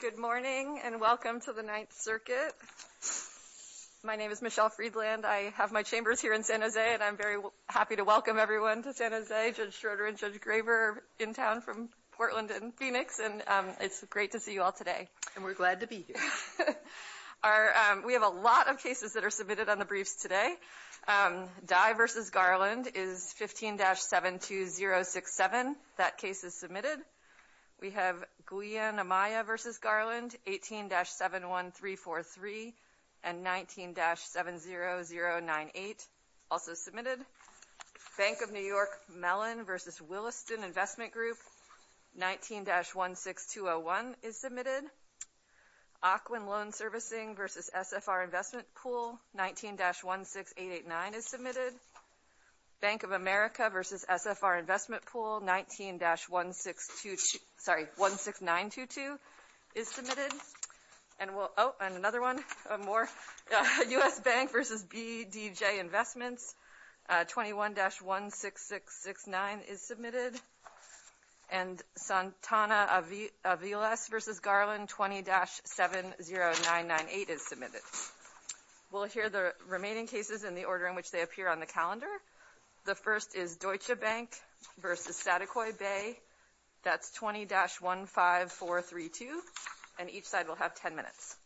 Good morning and welcome to the Ninth Circuit. My name is Michelle Friedland. I have my chambers here in San Jose and I'm very happy to welcome everyone to San Jose. Judge Schroeder and Judge Graber are in town from Portland and Phoenix and it's great to see you all today. And we're glad to be here. We have a lot of cases that are submitted on the briefs today. Dye v. Garland is 15-72067. That case is submitted. We have Guyana Maya v. Garland 18-71343 and 19-70098 also submitted. Bank of New York Mellon v. Williston Investment Group 19-16201 is submitted. Ocwin Loan Servicing v. SFR Investment Pool 19-16889 is submitted. Bank of America v. SFR Investment Pool 19-16922 is submitted. And another one, more. U.S. Bank v. BDJ Investments 21-16669 is submitted. And Santana Aviles v. Garland 20-70998 is submitted. We'll hear the briefs as they appear on the calendar. The first is Deutsche Bank v. Satakoi Bay. That's 20-15432. And each side will have 10 minutes.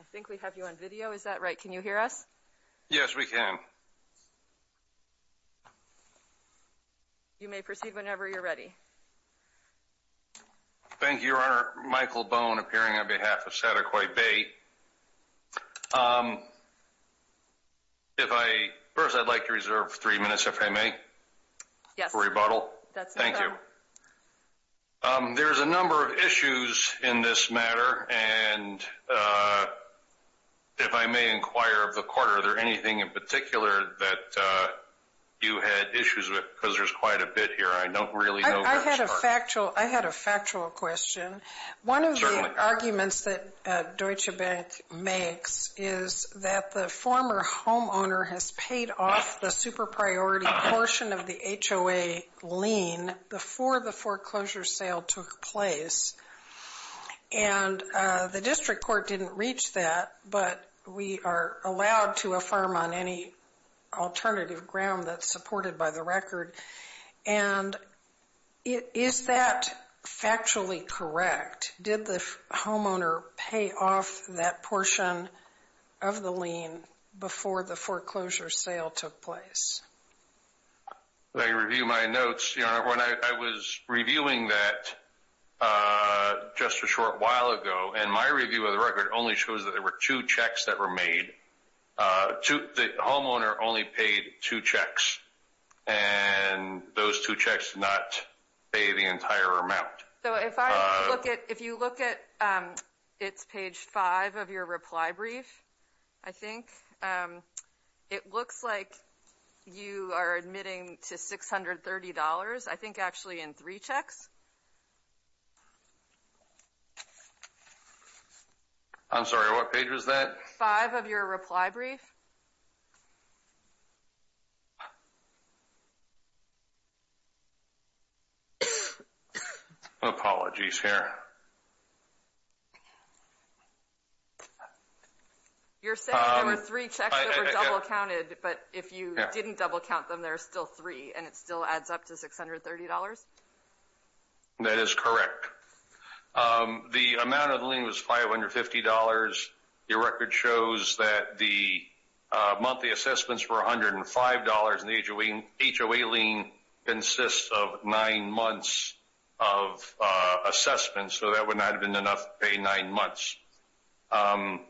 I think we have you on video. Is that right? Can you hear us? Yes, we can. You may proceed whenever you're ready. Thank you, Your Honor. Michael Bone appearing on behalf of Satakoi Bay. First, I'd like to reserve three minutes, if I may, for rebuttal. Thank you. There's a number of issues in this matter. And if I may inquire of the Court, are there anything in particular that you had issues with? Because there's quite a bit here. I don't really know this part. I had a factual question. One of the arguments that Deutsche Bank makes is that the former homeowner has paid off the super-priority portion of the HOA lien before the foreclosure sale took place. And the district court didn't reach that, but we are allowed to affirm on any alternative ground that's supported by the record. And is that factually correct? Did the homeowner pay off that portion of the lien before the foreclosure sale took place? When I review my notes, Your Honor, when I was reviewing that just a short while ago, and my review of the record only shows that there were two checks that were made. The homeowner only paid two checks, and those two checks did not pay the entire amount. If you look at page 5 of your reply brief, I think it looks like you are admitting to $630, I think actually in three checks. I'm sorry, what page was that? Page 5 of your reply brief. Apologies here. You're saying there were three checks that were double-counted, but if you didn't double-count them, there are still three, and it still adds up to $630? That is correct. The amount of the lien was $550. Your record shows that the monthly assessments were $105, and the HOA lien consists of nine months of assessments, so that would not have been enough to pay nine months. And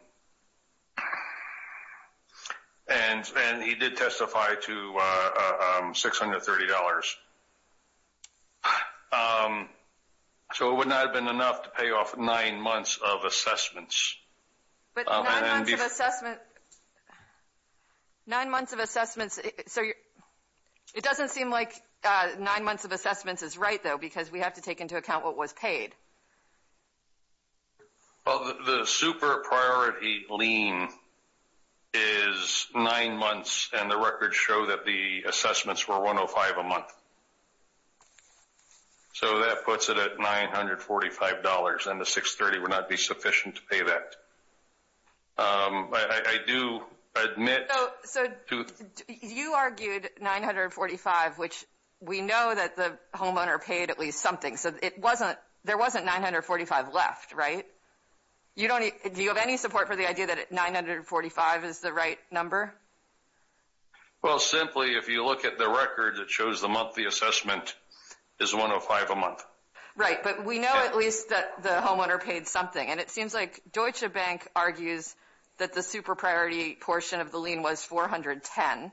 he did testify to $630. So it would not have been enough to pay off nine months of assessments. But nine months of assessments, so it doesn't seem like nine months of assessments is right, though, because we have to take into account what was paid. Well, the super-priority lien is nine months, and the records show that the assessments were $105 a month. So that puts it at $945, and the $630 would not be sufficient to pay that. I do admit to — So you argued $945, which we know that the homeowner paid at least something, so there wasn't $945 left, right? Do you have any support for the idea that $945 is the right number? Well, simply, if you look at the record, it shows the monthly assessment is $105 a month. Right, but we know at least that the homeowner paid something, and it seems like Deutsche Bank argues that the super-priority portion of the lien was $410, and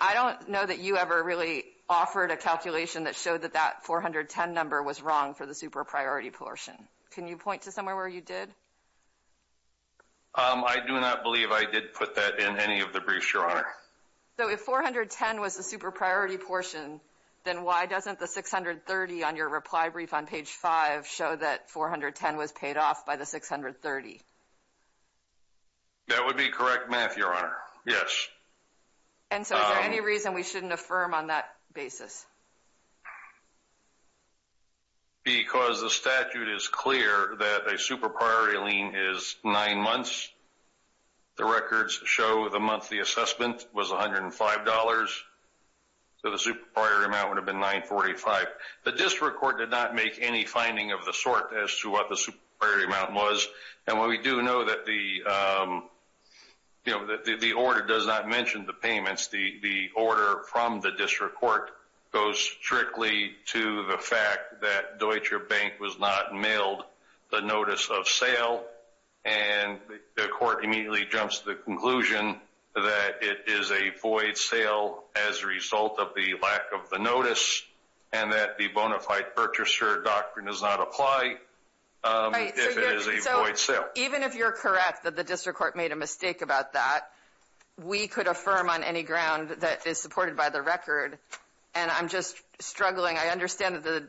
I don't know that you ever really offered a calculation that showed that that $410 number was wrong for the super-priority portion. Can you point to somewhere where you did? I do not believe I did put that in any of the briefs, Your Honor. So if $410 was the super-priority portion, then why doesn't the $630 on your reply brief on page 5 show that $410 was paid off by the $630? That would be correct math, Your Honor. Yes. And so is there any reason we shouldn't affirm on that basis? Because the statute is clear that a super-priority lien is nine months. The records show the monthly assessment was $105, so the super-priority amount would have been $945. The district court did not make any finding of the sort as to what the super-priority amount was, and while we do know that the order does not mention the payments, the order from the district court goes strictly to the fact that Deutsche Bank was not mailed the notice of sale, and the court immediately jumps to the conclusion that it is a void sale as a result of the lack of the notice and that the bona fide purchaser doctrine does not apply if it is a void sale. Even if you're correct that the district court made a mistake about that, we could affirm on any ground that is supported by the record, and I'm just struggling. I understand that the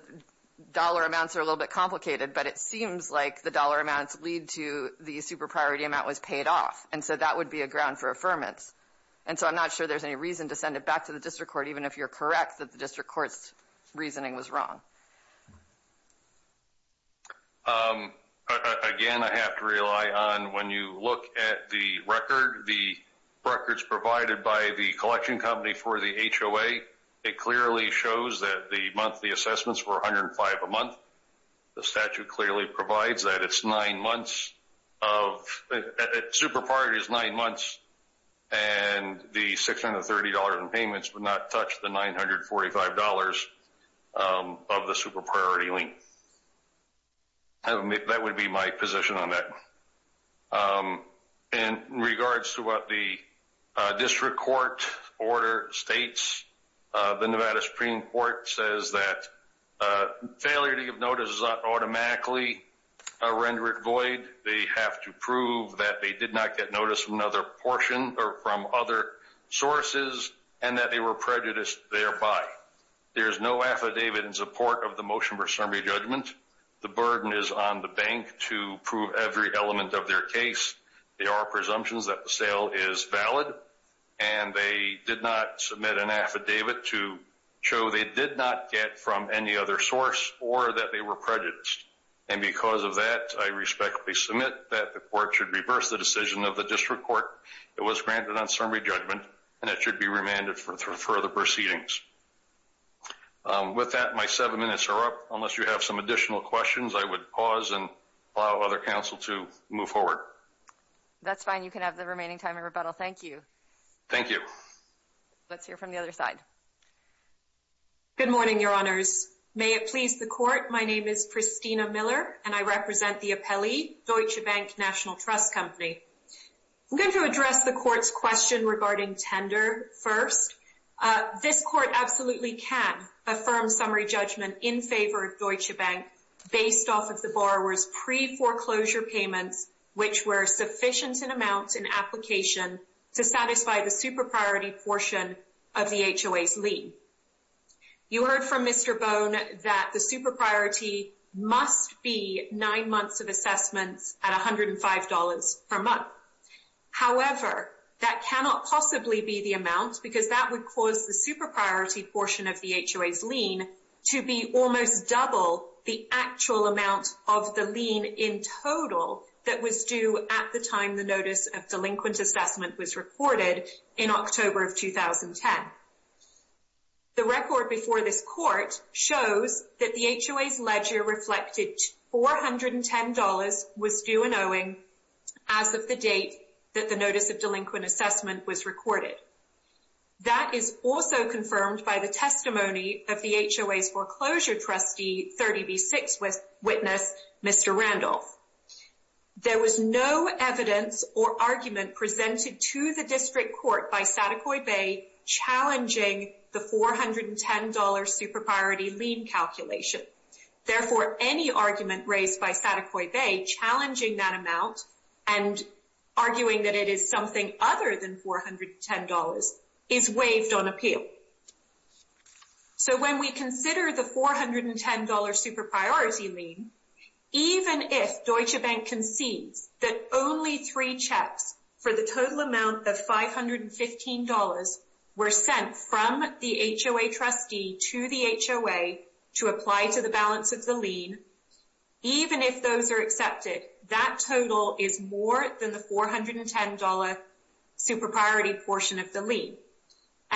dollar amounts are a little bit complicated, but it seems like the dollar amounts lead to the super-priority amount was paid off, and so that would be a ground for affirmance. And so I'm not sure there's any reason to send it back to the district court, even if you're correct that the district court's reasoning was wrong. Again, I have to rely on when you look at the record, the records provided by the collection company for the HOA, it clearly shows that the monthly assessments were $105 a month. The statute clearly provides that it's nine months of – That would be my position on that. In regards to what the district court order states, the Nevada Supreme Court says that failure to give notice does not automatically render it void. They have to prove that they did not get notice from another portion or from other sources and that they were prejudiced thereby. There is no affidavit in support of the motion for summary judgment. The burden is on the bank to prove every element of their case. There are presumptions that the sale is valid, and they did not submit an affidavit to show they did not get from any other source or that they were prejudiced. And because of that, I respectfully submit that the court should reverse the decision of the district court. It was granted on summary judgment, and it should be remanded for further proceedings. With that, my seven minutes are up. Unless you have some additional questions, I would pause and allow other counsel to move forward. That's fine. You can have the remaining time in rebuttal. Thank you. Thank you. Let's hear from the other side. Good morning, Your Honors. May it please the court, my name is Christina Miller, and I represent the appellee, Deutsche Bank National Trust Company. I'm going to address the court's question regarding tender first. This court absolutely can affirm summary judgment in favor of Deutsche Bank based off of the borrower's pre-foreclosure payments, which were sufficient in amount and application to satisfy the super priority portion of the HOA's lien. You heard from Mr. Bone that the super priority must be nine months of assessments at $105 per month. However, that cannot possibly be the amount because that would cause the super priority portion of the HOA's lien to be almost double the actual amount of the lien in total that was due at the time the notice of delinquent assessment was recorded in October of 2010. The record before this court shows that the HOA's ledger reflected $410 was due in owing as of the date that the notice of delinquent assessment was recorded. That is also confirmed by the testimony of the HOA's foreclosure trustee, 30B6 witness, Mr. Randolph. There was no evidence or argument presented to the district court by Satakoi Bay challenging the $410 super priority lien calculation. Therefore, any argument raised by Satakoi Bay challenging that amount and arguing that it is something other than $410 is waived on appeal. When we consider the $410 super priority lien, even if Deutsche Bank concedes that only three checks for the total amount of $515 were sent from the HOA trustee to the HOA to apply to the balance of the lien, even if those are accepted, that total is more than the $410 super priority portion of the lien.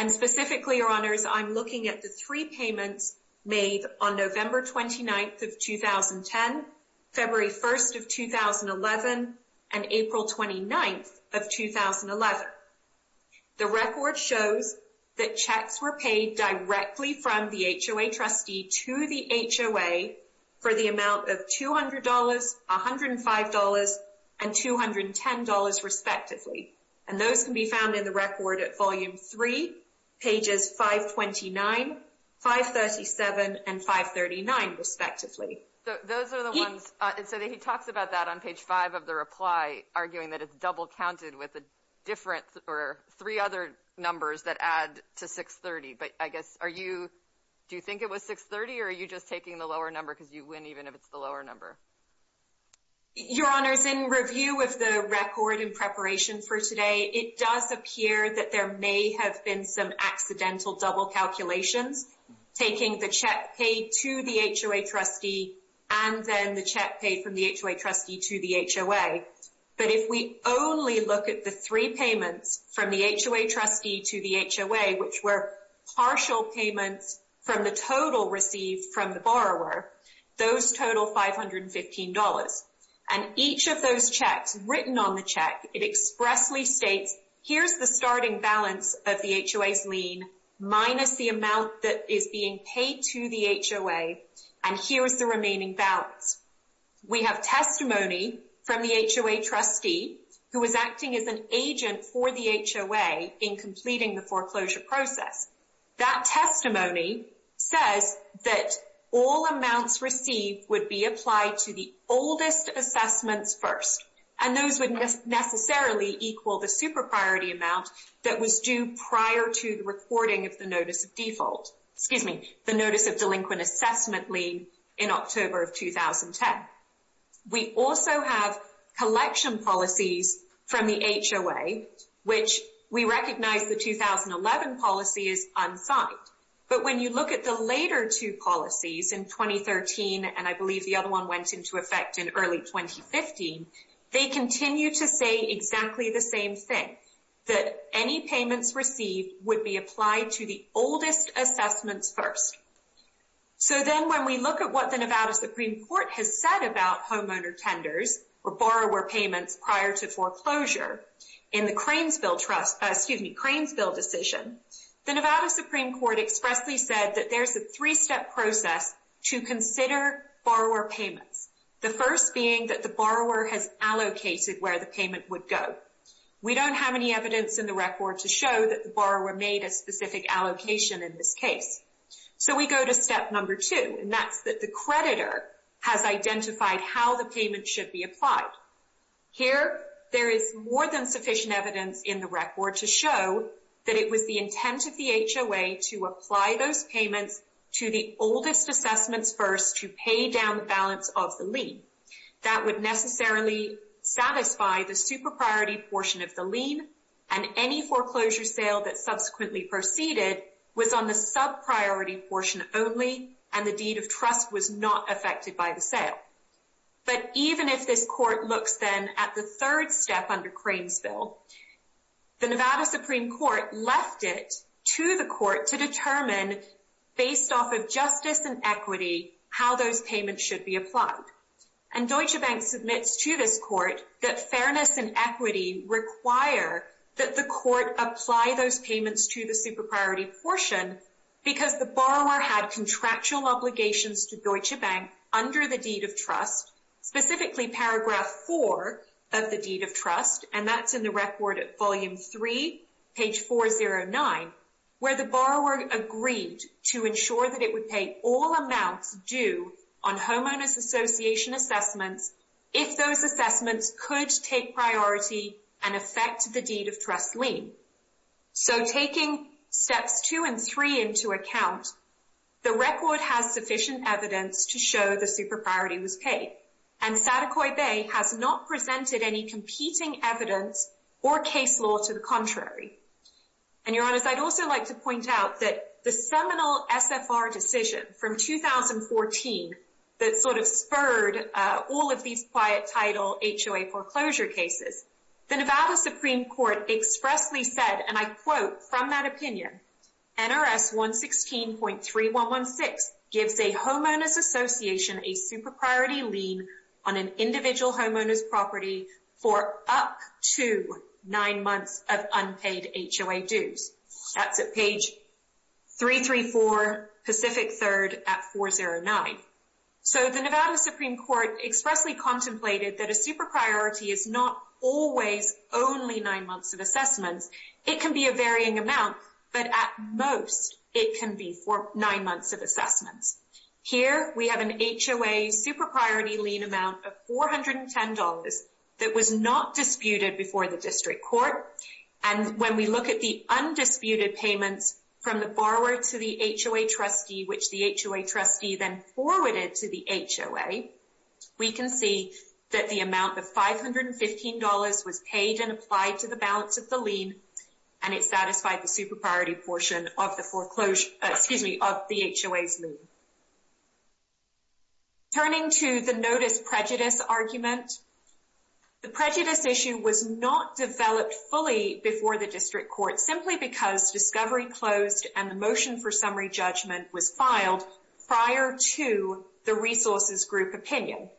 Specifically, Your Honors, I'm looking at the three payments made on November 29, 2010, February 1, 2011, and April 29, 2011. The record shows that checks were paid directly from the HOA trustee to the HOA for the amount of $200, $105, and $210, respectively. And those can be found in the record at Volume 3, Pages 529, 537, and 539, respectively. Those are the ones. So he talks about that on Page 5 of the reply, arguing that it's double counted with three other numbers that add to 630. But I guess, do you think it was 630, or are you just taking the lower number because you win even if it's the lower number? Your Honors, in review of the record in preparation for today, it does appear that there may have been some accidental double calculations, taking the check paid to the HOA trustee and then the check paid from the HOA trustee to the HOA. But if we only look at the three payments from the HOA trustee to the HOA, which were partial payments from the total received from the borrower, those total $515. And each of those checks written on the check, it expressly states, here's the starting balance of the HOA's lien minus the amount that is being paid to the HOA, and here's the remaining balance. We have testimony from the HOA trustee, who is acting as an agent for the HOA in completing the foreclosure process. That testimony says that all amounts received would be applied to the oldest assessments first, and those would necessarily equal the super priority amount that was due prior to the recording of the notice of default, excuse me, the notice of delinquent assessment lien in October of 2010. We also have collection policies from the HOA, which we recognize the 2011 policy is unsigned. But when you look at the later two policies in 2013, and I believe the other one went into effect in early 2015, they continue to say exactly the same thing, that any payments received would be applied to the oldest assessments first. So then when we look at what the Nevada Supreme Court has said about homeowner tenders, or borrower payments prior to foreclosure, in the Cranesville decision, the Nevada Supreme Court expressly said that there's a three-step process to consider borrower payments. The first being that the borrower has allocated where the payment would go. We don't have any evidence in the record to show that the borrower made a specific allocation in this case. So we go to step number two, and that's that the creditor has identified how the payment should be applied. Here, there is more than sufficient evidence in the record to show that it was the intent of the HOA to apply those payments to the oldest assessments first to pay down the balance of the lien. That would necessarily satisfy the super priority portion of the lien, and any foreclosure sale that subsequently proceeded was on the sub-priority portion only, and the deed of trust was not affected by the sale. But even if this court looks then at the third step under Cranesville, the Nevada Supreme Court left it to the court to determine, based off of justice and equity, how those payments should be applied. And Deutsche Bank submits to this court that fairness and equity require that the court apply those payments to the super priority portion because the borrower had contractual obligations to Deutsche Bank under the deed of trust, specifically paragraph four of the deed of trust, and that's in the record at volume three, page 409, where the borrower agreed to ensure that it would pay all amounts due on homeowners association assessments if those assessments could take priority and affect the deed of trust lien. So taking steps two and three into account, the record has sufficient evidence to show the super priority was paid, and Saticoy Bay has not presented any competing evidence or case law to the contrary. And Your Honor, I'd also like to point out that the seminal SFR decision from 2014 that sort of spurred all of these quiet title HOA foreclosure cases, the Nevada Supreme Court expressly said, and I quote from that opinion, NRS 116.3116 gives a homeowners association a super priority lien on an individual homeowners property for up to nine months of unpaid HOA dues. That's at page 334, Pacific 3rd, at 409. So the Nevada Supreme Court expressly contemplated that a super priority is not always only nine months of assessments. It can be a varying amount, but at most it can be for nine months of assessments. Here we have an HOA super priority lien amount of $410 that was not disputed before the district court. And when we look at the undisputed payments from the borrower to the HOA trustee, which the HOA trustee then forwarded to the HOA, we can see that the amount of $515 was paid and applied to the balance of the lien, and it satisfied the super priority portion of the HOA's lien. Turning to the notice prejudice argument, the prejudice issue was not developed fully before the district court, simply because discovery closed and the motion for summary judgment was filed prior to the resources group opinion.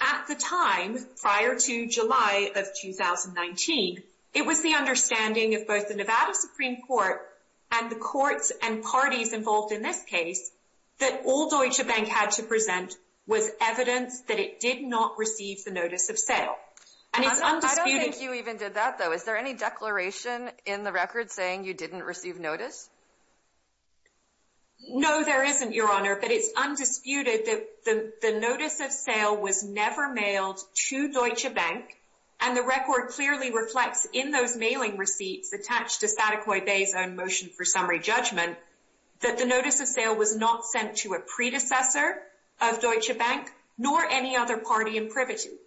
At the time, prior to July of 2019, it was the understanding of both the Nevada Supreme Court and the courts and parties involved in this case that all Deutsche Bank had to present was evidence that it did not receive the notice of sale. I don't think you even did that, though. Is there any declaration in the record saying you didn't receive notice? No, there isn't, Your Honor, but it's undisputed that the notice of sale was never mailed to Deutsche Bank, and the record clearly reflects in those mailing receipts attached to Sadecoy Bay's own motion for summary judgment that the notice of sale was not sent to a predecessor of Deutsche Bank nor any other party in privy to it.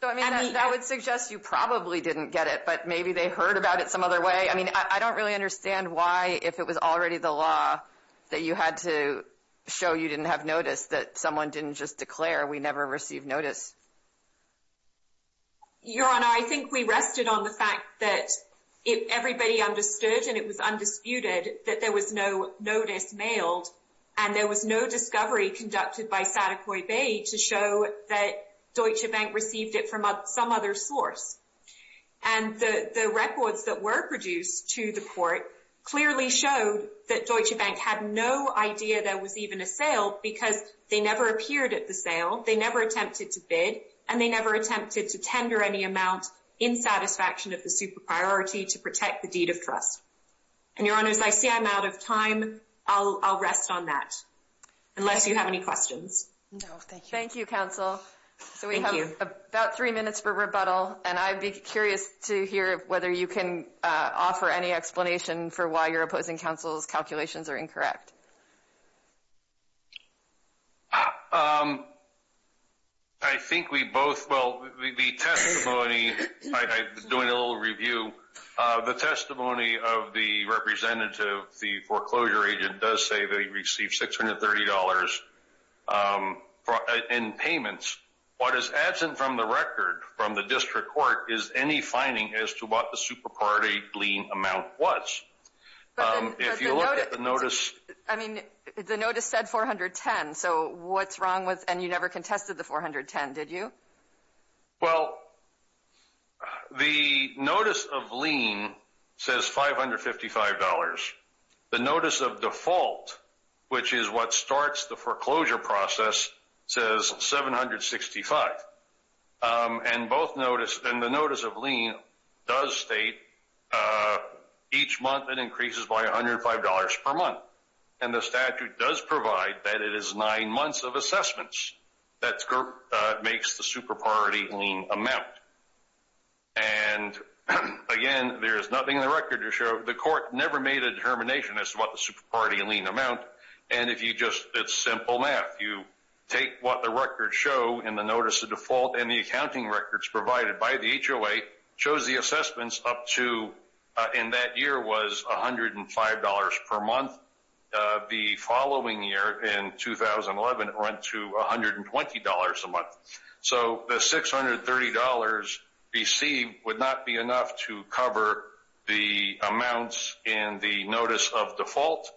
So, I mean, that would suggest you probably didn't get it, but maybe they heard about it some other way. I mean, I don't really understand why, if it was already the law that you had to show you didn't have notice, that someone didn't just declare we never received notice. Your Honor, I think we rested on the fact that everybody understood and it was undisputed that there was no notice mailed, and there was no discovery conducted by Sadecoy Bay to show that Deutsche Bank received it from some other source. And the records that were produced to the court clearly showed that Deutsche Bank had no idea there was even a sale because they never appeared at the sale, they never attempted to bid, and they never attempted to tender any amount in satisfaction of the super priority to protect the deed of trust. And, Your Honors, I see I'm out of time. I'll rest on that, unless you have any questions. No, thank you. Thank you, counsel. Thank you. So we have about three minutes for rebuttal, and I'd be curious to hear whether you can offer any explanation for why your opposing counsel's calculations are incorrect. I think we both, well, the testimony, I'm doing a little review. The testimony of the representative, the foreclosure agent, does say they received $630 in payments. What is absent from the record from the district court is any finding as to what the super priority lien amount was. If you look at the notice. I mean, the notice said $410, so what's wrong with, and you never contested the $410, did you? Well, the notice of lien says $555. The notice of default, which is what starts the foreclosure process, says $765. And both notice, and the notice of lien does state each month it increases by $105 per month. And the statute does provide that it is nine months of assessments that makes the super priority lien amount. And, again, there is nothing in the record to show the court never made a determination as to what the super priority lien amount. And if you just, it's simple math. You take what the records show in the notice of default and the accounting records provided by the HOA shows the assessments up to, and that year was $105 per month. The following year, in 2011, it went to $120 a month. So the $630 received would not be enough to cover the amounts in the notice of default,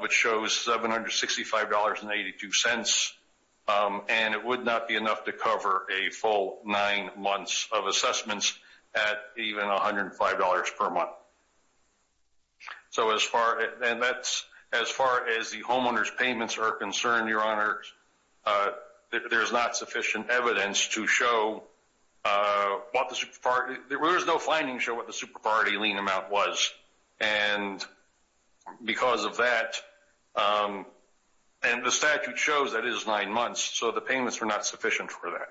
which shows $765.82. And it would not be enough to cover a full nine months of assessments at even $105 per month. So as far, and that's, as far as the homeowner's payments are concerned, Your Honor, there's not sufficient evidence to show what the, there is no finding to show what the super priority lien amount was. And because of that, and the statute shows that it is nine months, so the payments were not sufficient for that.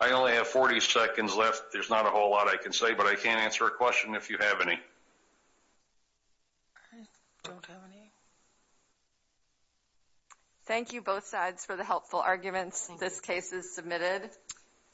I only have 40 seconds left. There's not a whole lot I can say, but I can answer a question if you have any. Thank you both sides for the helpful arguments. This case is submitted.